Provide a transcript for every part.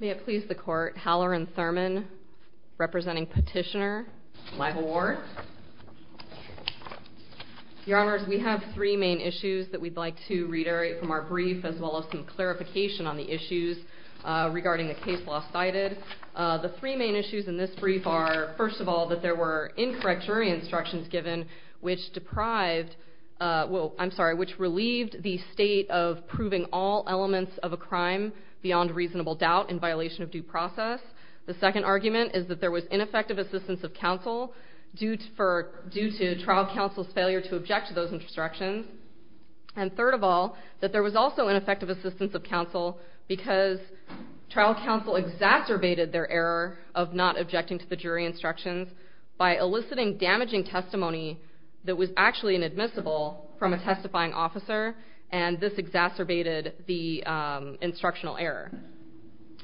May it please the court, Halloran Thurman, representing Petitioner, Lival Ward. Your Honors, we have three main issues that we'd like to reiterate from our brief, as well as some clarification on the issues regarding the case law cited. The three main issues in this brief are, first of all, that there were incorrect jury instructions given which deprived, I'm sorry, which relieved the state of proving all elements of a crime beyond reasonable doubt in violation of due process. The second argument is that there was ineffective assistance of counsel due to trial counsel's failure to object to those instructions. And third of all, that there was also ineffective assistance of counsel because trial counsel exacerbated their error of not objecting to the jury instructions by eliciting damaging testimony that was actually inadmissible from a testifying officer, and this exacerbated the instructional error.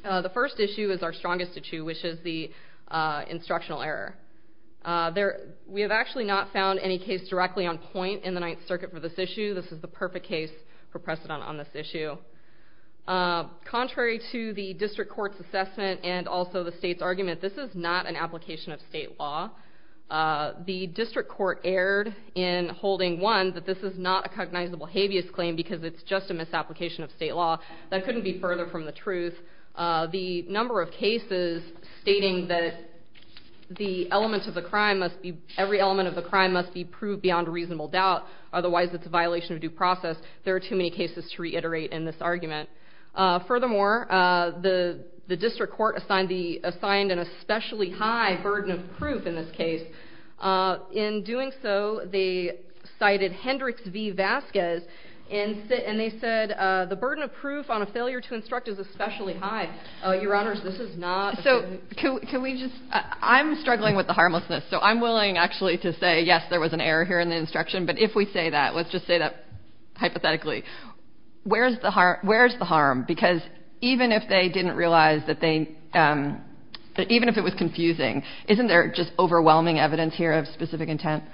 The first issue is our strongest of two, which is the instructional error. We have actually not found any case directly on point in the Ninth Circuit for this issue. This is the perfect case for precedent on this issue. Contrary to the district court's assessment and also the state's argument, this is not an application of state law. The district court erred in holding, one, that this is not a cognizable habeas claim because it's just a misapplication of state law. That couldn't be further from the truth. The number of cases stating that every element of the crime must be proved beyond reasonable doubt, otherwise it's a violation of due process, there are too many cases to reiterate in this argument. Furthermore, the district court assigned an especially high burden of proof in this case. In doing so, they cited Hendricks v. Vasquez, and they said the burden of proof on a failure to instruct is especially high. Your Honors, this is not a burden of proof. So can we just – I'm struggling with the harmlessness, so I'm willing actually to say, yes, there was an error here in the instruction, but if we say that, let's just say that hypothetically, where's the harm? Because even if they didn't realize that they – even if it was confusing, isn't there just overwhelming evidence here of specific intent?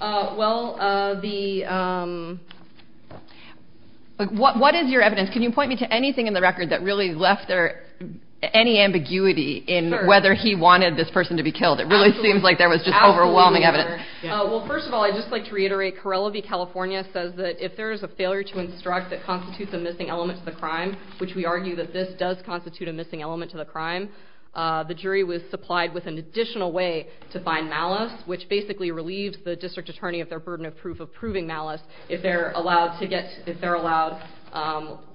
Well, the – What is your evidence? Can you point me to anything in the record that really left there any ambiguity in whether he wanted this person to be killed? It really seems like there was just overwhelming evidence. Well, first of all, I'd just like to reiterate, Corella v. California says that if there is a failure to instruct that constitutes a missing element to the crime, which we argue that this does constitute a missing element to the crime, the jury was supplied with an additional way to find malice, which basically relieves the district attorney of their burden of proof of proving malice, if they're allowed to get – if they're allowed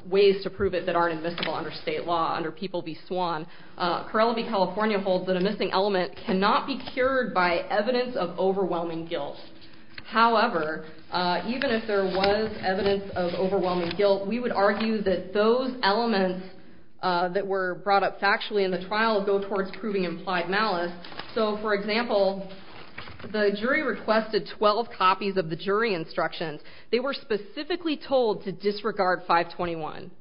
ways to prove it that aren't admissible under state law, under People v. Swan. Corella v. California holds that a missing element cannot be cured by evidence of overwhelming guilt. However, even if there was evidence of overwhelming guilt, we would argue that those elements that were brought up factually in the trial go towards proving implied malice. So, for example, the jury requested 12 copies of the jury instructions. They were specifically told to disregard 521.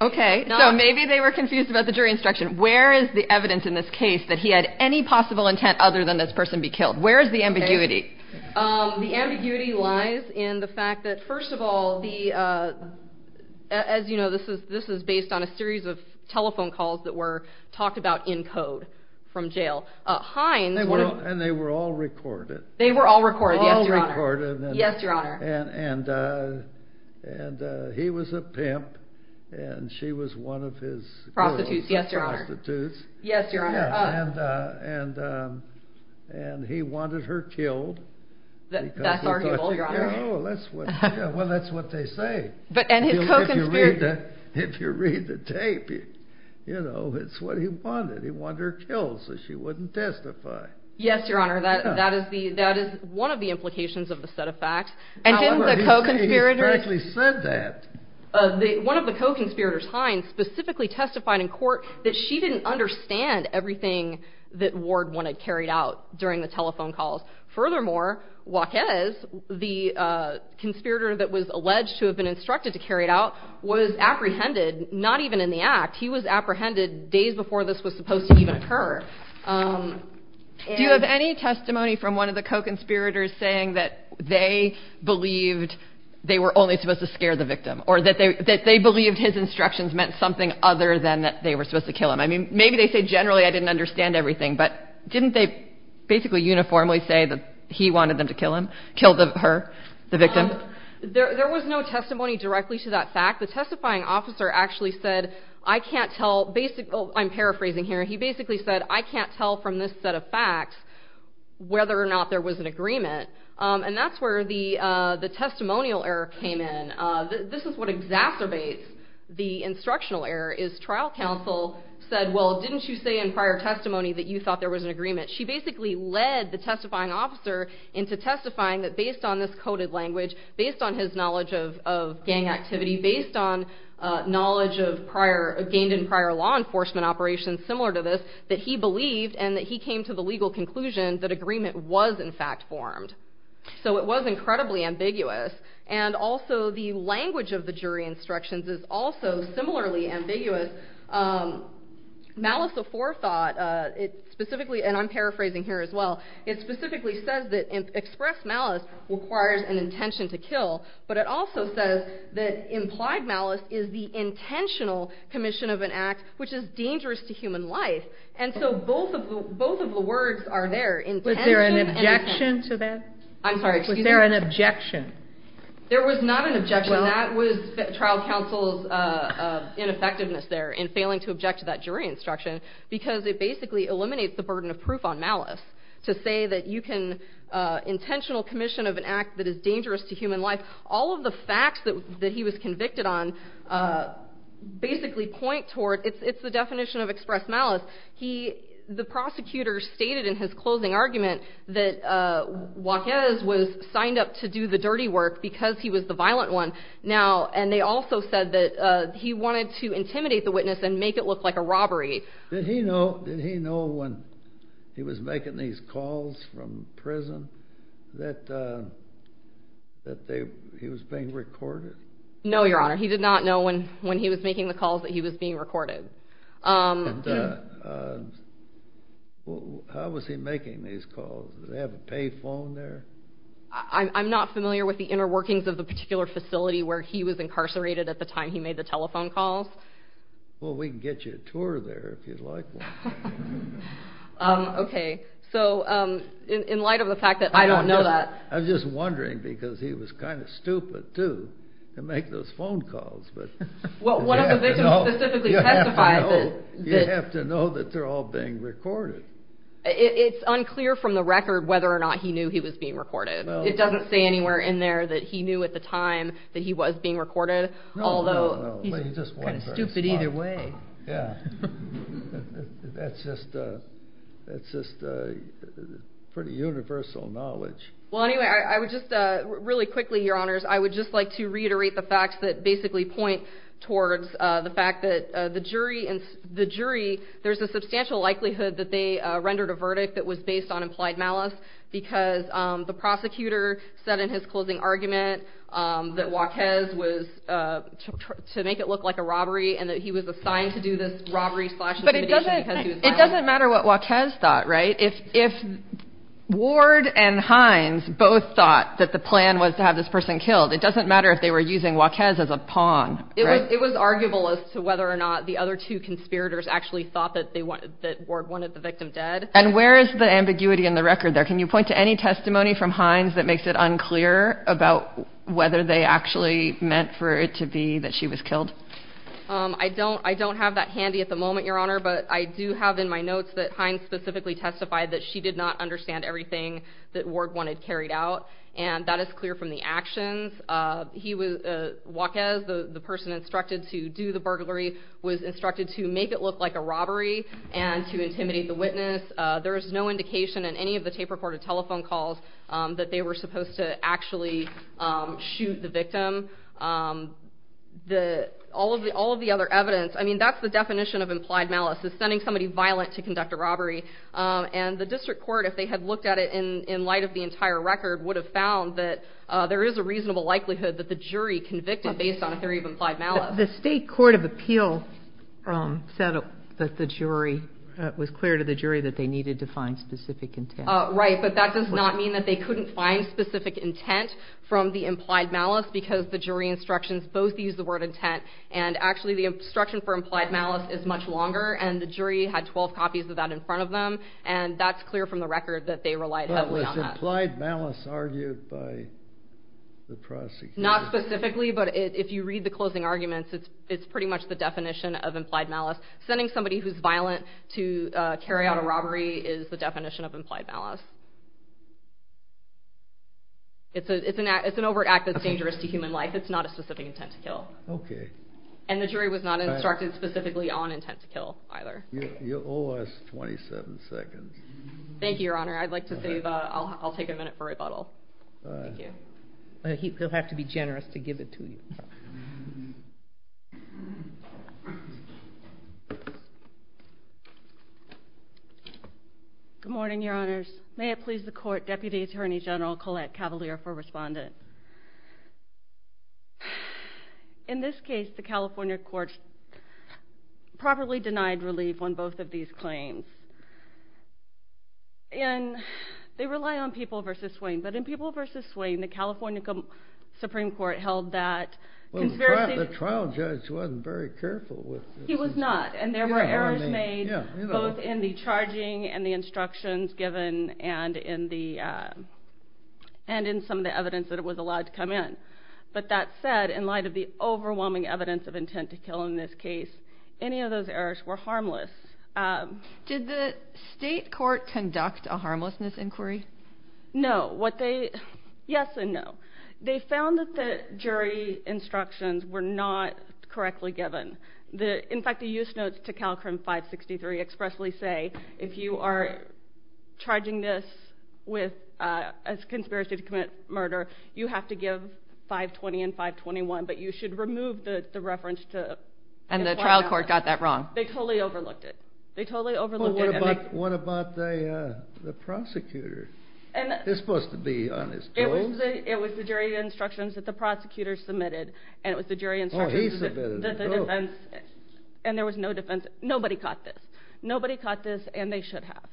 Okay, so maybe they were confused about the jury instruction. Where is the evidence in this case that he had any possible intent other than this person be killed? Where is the ambiguity? The ambiguity lies in the fact that, first of all, the – as you know, this is based on a series of telephone calls that were talked about in code from jail. Hines – And they were all recorded. They were all recorded, yes, Your Honor. All recorded. Yes, Your Honor. And he was a pimp, and she was one of his girls. Prostitutes, yes, Your Honor. Prostitutes. Yes, Your Honor. And he wanted her killed. That's arguable, Your Honor. Well, that's what they say. And his co-conspirator – If you read the tape, you know, it's what he wanted. He wanted her killed so she wouldn't testify. Yes, Your Honor. That is the – that is one of the implications of the set of facts. And didn't the co-conspirator – However, he said – he practically said that. One of the co-conspirators, Hines, specifically testified in court that she didn't understand everything that Ward wanted carried out during the telephone calls. Furthermore, Joaquez, the conspirator that was alleged to have been instructed to carry it out, was apprehended not even in the act. He was apprehended days before this was supposed to even occur. Do you have any testimony from one of the co-conspirators saying that they believed they were only supposed to scare the victim or that they believed his instructions meant something other than that they were supposed to kill him? I mean, maybe they say, generally, I didn't understand everything. But didn't they basically uniformly say that he wanted them to kill him – kill her, the victim? There was no testimony directly to that fact. The testifying officer actually said, I can't tell – I'm paraphrasing here. He basically said, I can't tell from this set of facts whether or not there was an agreement. And that's where the testimonial error came in. This is what exacerbates the instructional error is trial counsel said, well, didn't you say in prior testimony that you thought there was an agreement? She basically led the testifying officer into testifying that based on this coded language, based on his knowledge of gang activity, based on knowledge of gained in prior law enforcement operations similar to this, that he believed and that he came to the legal conclusion that agreement was, in fact, formed. So it was incredibly ambiguous. And also the language of the jury instructions is also similarly ambiguous. Malice aforethought, it specifically – and I'm paraphrasing here as well – it specifically says that express malice requires an intention to kill. But it also says that implied malice is the intentional commission of an act which is dangerous to human life. And so both of the words are there. Was there an objection to that? I'm sorry. Was there an objection? There was not an objection. That was trial counsel's ineffectiveness there in failing to object to that jury instruction because it basically eliminates the burden of proof on malice to say that you can – intentional commission of an act that is dangerous to human life. All of the facts that he was convicted on basically point toward – it's the definition of express malice. He – the prosecutor stated in his closing argument that Joaques was signed up to do the dirty work because he was the violent one. Now – and they also said that he wanted to intimidate the witness and make it look like a robbery. Did he know when he was making these calls from prison that he was being recorded? No, Your Honor. He did not know when he was making the calls that he was being recorded. And how was he making these calls? Did he have a pay phone there? I'm not familiar with the inner workings of the particular facility where he was incarcerated at the time he made the telephone calls. Well, we can get you a tour there if you'd like one. Okay. So in light of the fact that I don't know that – I'm just wondering because he was kind of stupid, too, to make those phone calls. Well, one of the victims specifically testified that – You have to know that they're all being recorded. It's unclear from the record whether or not he knew he was being recorded. It doesn't say anywhere in there that he knew at the time that he was being recorded, although – He's kind of stupid either way. Yeah. That's just pretty universal knowledge. Well, anyway, I would just really quickly, Your Honors, I would just like to reiterate the facts that basically point towards the fact that the jury – there's a substantial likelihood that they rendered a verdict that was based on implied malice because the prosecutor said in his closing argument that Joaques was – to make it look like a robbery and that he was assigned to do this robbery slash intimidation because he was – But it doesn't matter what Joaques thought, right? If Ward and Hines both thought that the plan was to have this person killed, it doesn't matter if they were using Joaques as a pawn, right? It was arguable as to whether or not the other two conspirators actually thought that Ward wanted the victim dead. And where is the ambiguity in the record there? Can you point to any testimony from Hines that makes it unclear about whether they actually meant for it to be that she was killed? I don't have that handy at the moment, Your Honor, but I do have in my notes that Hines specifically testified that she did not understand everything that Ward wanted carried out, and that is clear from the actions. Joaques, the person instructed to do the burglary, was instructed to make it look like a robbery and to intimidate the witness. There is no indication in any of the tape-recorded telephone calls that they were supposed to actually shoot the victim. All of the other evidence – I mean, that's the definition of implied malice, is sending somebody violent to conduct a robbery. And the district court, if they had looked at it in light of the entire record, would have found that there is a reasonable likelihood that the jury convicted based on a theory of implied malice. The state court of appeal said that the jury – was clear to the jury that they needed to find specific intent. Right, but that does not mean that they couldn't find specific intent from the implied malice because the jury instructions both use the word intent, and actually the instruction for implied malice is much longer, and the jury had 12 copies of that in front of them, and that's clear from the record that they relied heavily on that. But was implied malice argued by the prosecutor? Not specifically, but if you read the closing arguments, it's pretty much the definition of implied malice. Sending somebody who's violent to carry out a robbery is the definition of implied malice. It's an overt act that's dangerous to human life. It's not a specific intent to kill. Okay. And the jury was not instructed specifically on intent to kill either. You owe us 27 seconds. Thank you, Your Honor. I'd like to save – I'll take a minute for rebuttal. Thank you. He'll have to be generous to give it to you. Good morning, Your Honors. May it please the Court, Deputy Attorney General Colette Cavalier for Respondent. In this case, the California courts properly denied relief on both of these claims. And they rely on People v. Swain. But in People v. Swain, the California Supreme Court held that conspiracy – Well, the trial judge wasn't very careful with this. He was not. And there were errors made both in the charging and the instructions given and in some of the evidence that was allowed to come in. But that said, in light of the overwhelming evidence of intent to kill in this case, any of those errors were harmless. Did the state court conduct a harmlessness inquiry? No. What they – yes and no. They found that the jury instructions were not correctly given. In fact, the use notes to CalCrim 563 expressly say, if you are charging this as conspiracy to commit murder, you have to give 520 and 521, but you should remove the reference to – And the trial court got that wrong. They totally overlooked it. They totally overlooked it. Well, what about the prosecutor? He's supposed to be on his toes. It was the jury instructions that the prosecutor submitted, and it was the jury instructions that the defense – Oh, he submitted them both. And there was no defense. Nobody caught this. Nobody caught this, and they should have.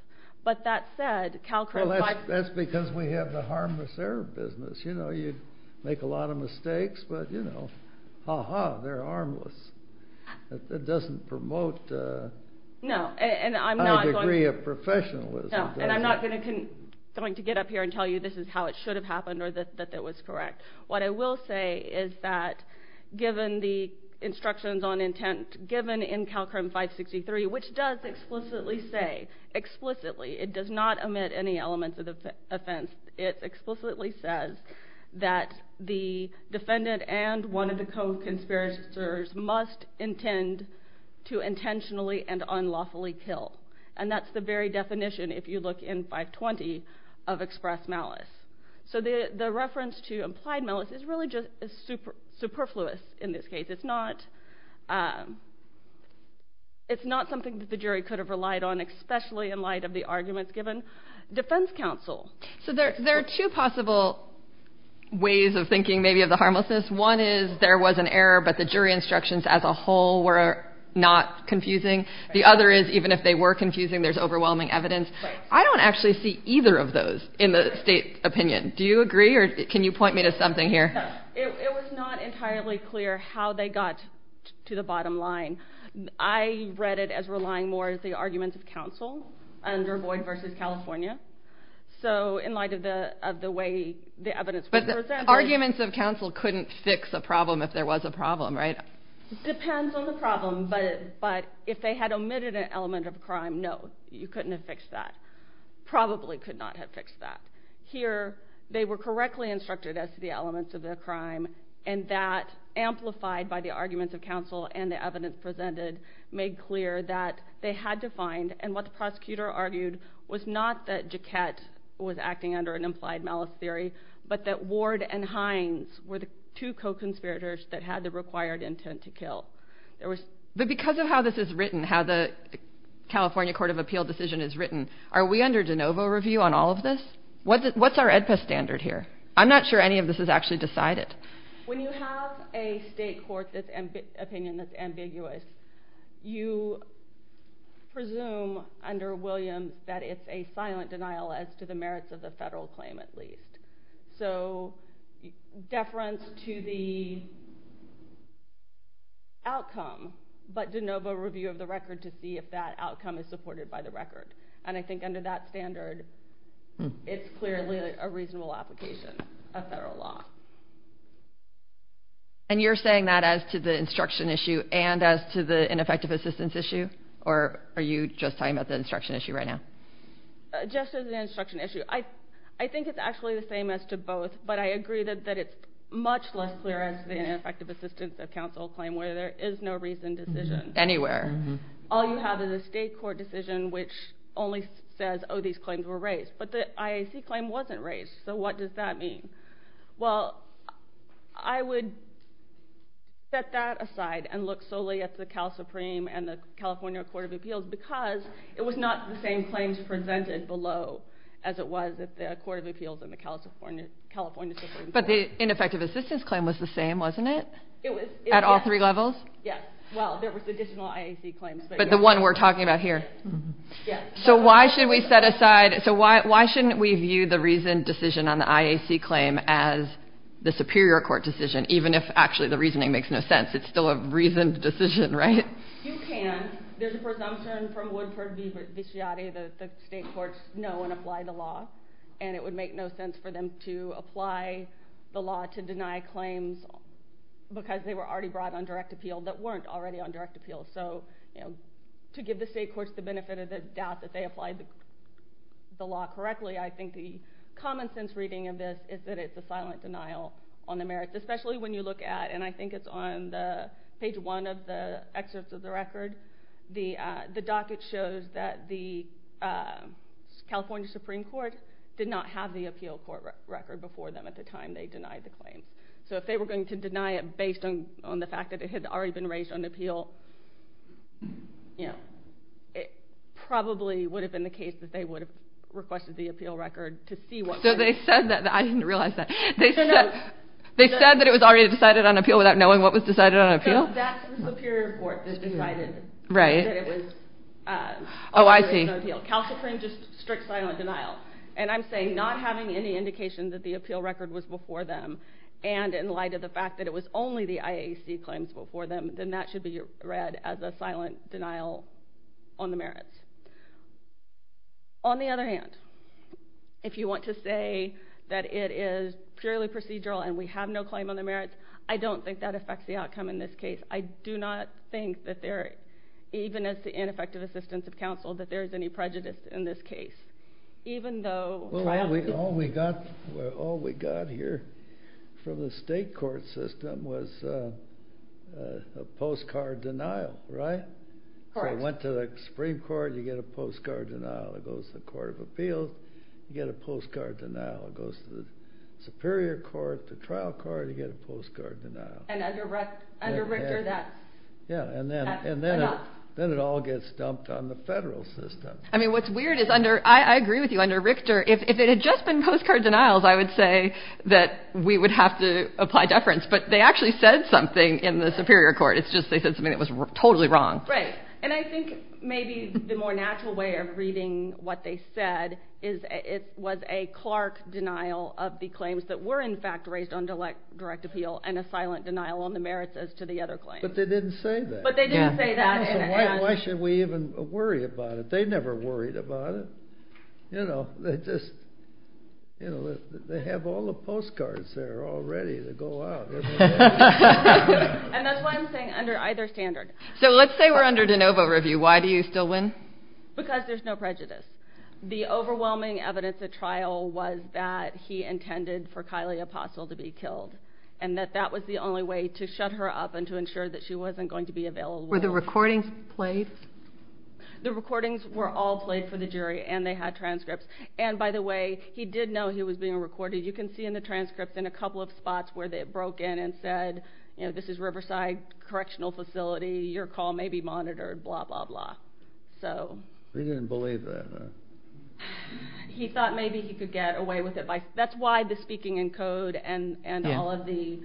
But that said, CalCrim – Well, that's because we have the harmless error business. You know, you make a lot of mistakes, but, you know, ha-ha, they're harmless. It doesn't promote a high degree of professionalism. No, and I'm not going to get up here and tell you this is how it should have happened or that it was correct. What I will say is that given the instructions on intent given in CalCrim 563, which does explicitly say – explicitly. It does not omit any elements of the offense. It explicitly says that the defendant and one of the co-conspirators must intend to intentionally and unlawfully kill. And that's the very definition, if you look in 520, of express malice. So the reference to implied malice is really just superfluous in this case. It's not something that the jury could have relied on, especially in light of the arguments given. Defense counsel. So there are two possible ways of thinking maybe of the harmlessness. One is there was an error, but the jury instructions as a whole were not confusing. The other is even if they were confusing, there's overwhelming evidence. I don't actually see either of those in the state opinion. Do you agree, or can you point me to something here? It was not entirely clear how they got to the bottom line. I read it as relying more on the arguments of counsel under Boyd v. California. So in light of the way the evidence was presented. But the arguments of counsel couldn't fix a problem if there was a problem, right? Depends on the problem, but if they had omitted an element of a crime, no. You couldn't have fixed that. Probably could not have fixed that. Here, they were correctly instructed as to the elements of the crime, and that, amplified by the arguments of counsel and the evidence presented, made clear that they had to find, and what the prosecutor argued, was not that Jaquette was acting under an implied malice theory, but that Ward and Hines were the two co-conspirators that had the required intent to kill. But because of how this is written, how the California Court of Appeal decision is written, are we under de novo review on all of this? What's our AEDPA standard here? I'm not sure any of this is actually decided. When you have a state court opinion that's ambiguous, you presume under Williams that it's a silent denial as to the merits of the federal claim, at least. So deference to the outcome, but de novo review of the record to see if that outcome is supported by the record. And I think under that standard, it's clearly a reasonable application of federal law. And you're saying that as to the instruction issue and as to the ineffective assistance issue? Or are you just talking about the instruction issue right now? Just as an instruction issue. I think it's actually the same as to both, but I agree that it's much less clear as to the ineffective assistance of counsel claim where there is no reasoned decision. Anywhere. All you have is a state court decision which only says, oh, these claims were raised. But the IAC claim wasn't raised, so what does that mean? Well, I would set that aside and look solely at the Cal Supreme and the California Court of Appeals because it was not the same claims presented below as it was at the Court of Appeals and the California Supreme Court. But the ineffective assistance claim was the same, wasn't it? It was. At all three levels? Yes. Well, there was additional IAC claims. But the one we're talking about here? Yes. So why shouldn't we view the reasoned decision on the IAC claim as the superior court decision, even if actually the reasoning makes no sense? It's still a reasoned decision, right? You can. There's a presumption from Woodford v. Viciati that the state courts know and apply the law, and it would make no sense for them to apply the law to deny claims because they were already brought on direct appeal that weren't already on direct appeal. So to give the state courts the benefit of the doubt that they applied the law correctly, I think the common sense reading of this is that it's a silent denial on the merits, especially when you look at, and I think it's on page one of the excerpts of the record, the docket shows that the California Supreme Court did not have the appeal court record before them at the time they denied the claim. So if they were going to deny it based on the fact that it had already been raised on appeal, it probably would have been the case that they would have requested the appeal record to see what... So they said that. I didn't realize that. They said that it was already decided on appeal without knowing what was decided on appeal? That's the Superior Court that decided that it was already on appeal. Oh, I see. California Supreme Court just strict silent denial. And I'm saying not having any indication that the appeal record was before them, and in light of the fact that it was only the IAC claims before them, then that should be read as a silent denial on the merits. On the other hand, if you want to say that it is purely procedural and we have no claim on the merits, I don't think that affects the outcome in this case. I do not think that there, even as the ineffective assistance of counsel, that there is any prejudice in this case, even though... Well, all we got here from the state court system was a postcard denial, right? Correct. So it went to the Supreme Court, you get a postcard denial. It goes to the Court of Appeals, you get a postcard denial. It goes to the Superior Court, the trial court, you get a postcard denial. And under Richter, that's enough. Yeah, and then it all gets dumped on the federal system. I mean, what's weird is under, I agree with you, under Richter, if it had just been postcard denials, I would say that we would have to apply deference. But they actually said something in the Superior Court. It's just they said something that was totally wrong. Right. And I think maybe the more natural way of reading what they said was a Clark denial of the claims that were, in fact, raised on direct appeal and a silent denial on the merits as to the other claims. But they didn't say that. But they didn't say that. So why should we even worry about it? They never worried about it. You know, they just, you know, they have all the postcards there already to go out. And that's why I'm saying under either standard. So let's say we're under de novo review. Why do you still win? Because there's no prejudice. The overwhelming evidence at trial was that he intended for Kylie Apostle to be killed and that that was the only way to shut her up and to ensure that she wasn't going to be available. Were the recordings played? The recordings were all played for the jury, and they had transcripts. And, by the way, he did know he was being recorded. You can see in the transcripts in a couple of spots where they broke in and said, you know, this is Riverside Correctional Facility. Your call may be monitored, blah, blah, blah. He didn't believe that. He thought maybe he could get away with it. That's why the speaking in code and all of the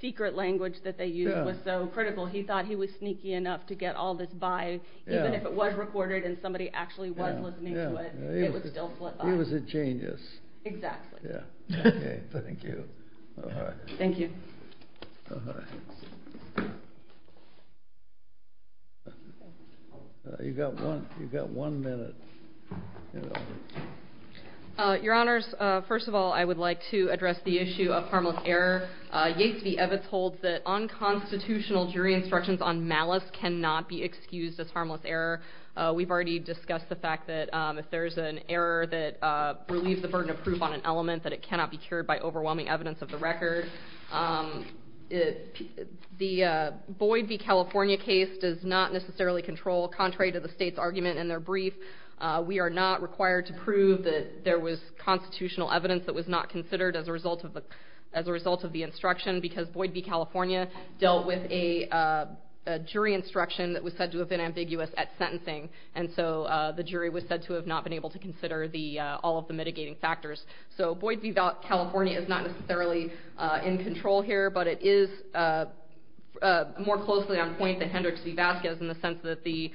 secret language that they used was so critical. He thought he was sneaky enough to get all this by. Even if it was recorded and somebody actually was listening to it, it would still flip out. He was a genius. Exactly. Okay, thank you. All right. Thank you. All right. You've got one minute. Your Honors, first of all, I would like to address the issue of harmless error. Yates v. Evitz holds that unconstitutional jury instructions on malice cannot be excused as harmless error. We've already discussed the fact that if there's an error that relieves the burden of proof on an element, that it cannot be cured by overwhelming evidence of the record. The Boyd v. California case does not necessarily control, contrary to the state's argument in their brief, we are not required to prove that there was constitutional evidence that was not considered as a result of the instruction because Boyd v. California dealt with a jury instruction that was said to have been ambiguous at sentencing, and so the jury was said to have not been able to consider all of the mitigating factors. So Boyd v. California is not necessarily in control here, but it is more closely on point than Hendricks v. Vasquez in the sense that the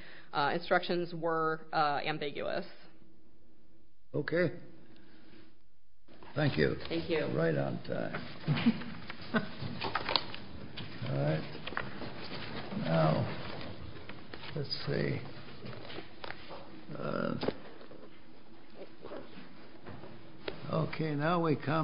instructions were ambiguous. Okay. Thank you. Thank you. Right on time. All right. Now, let's see. Okay, now we come.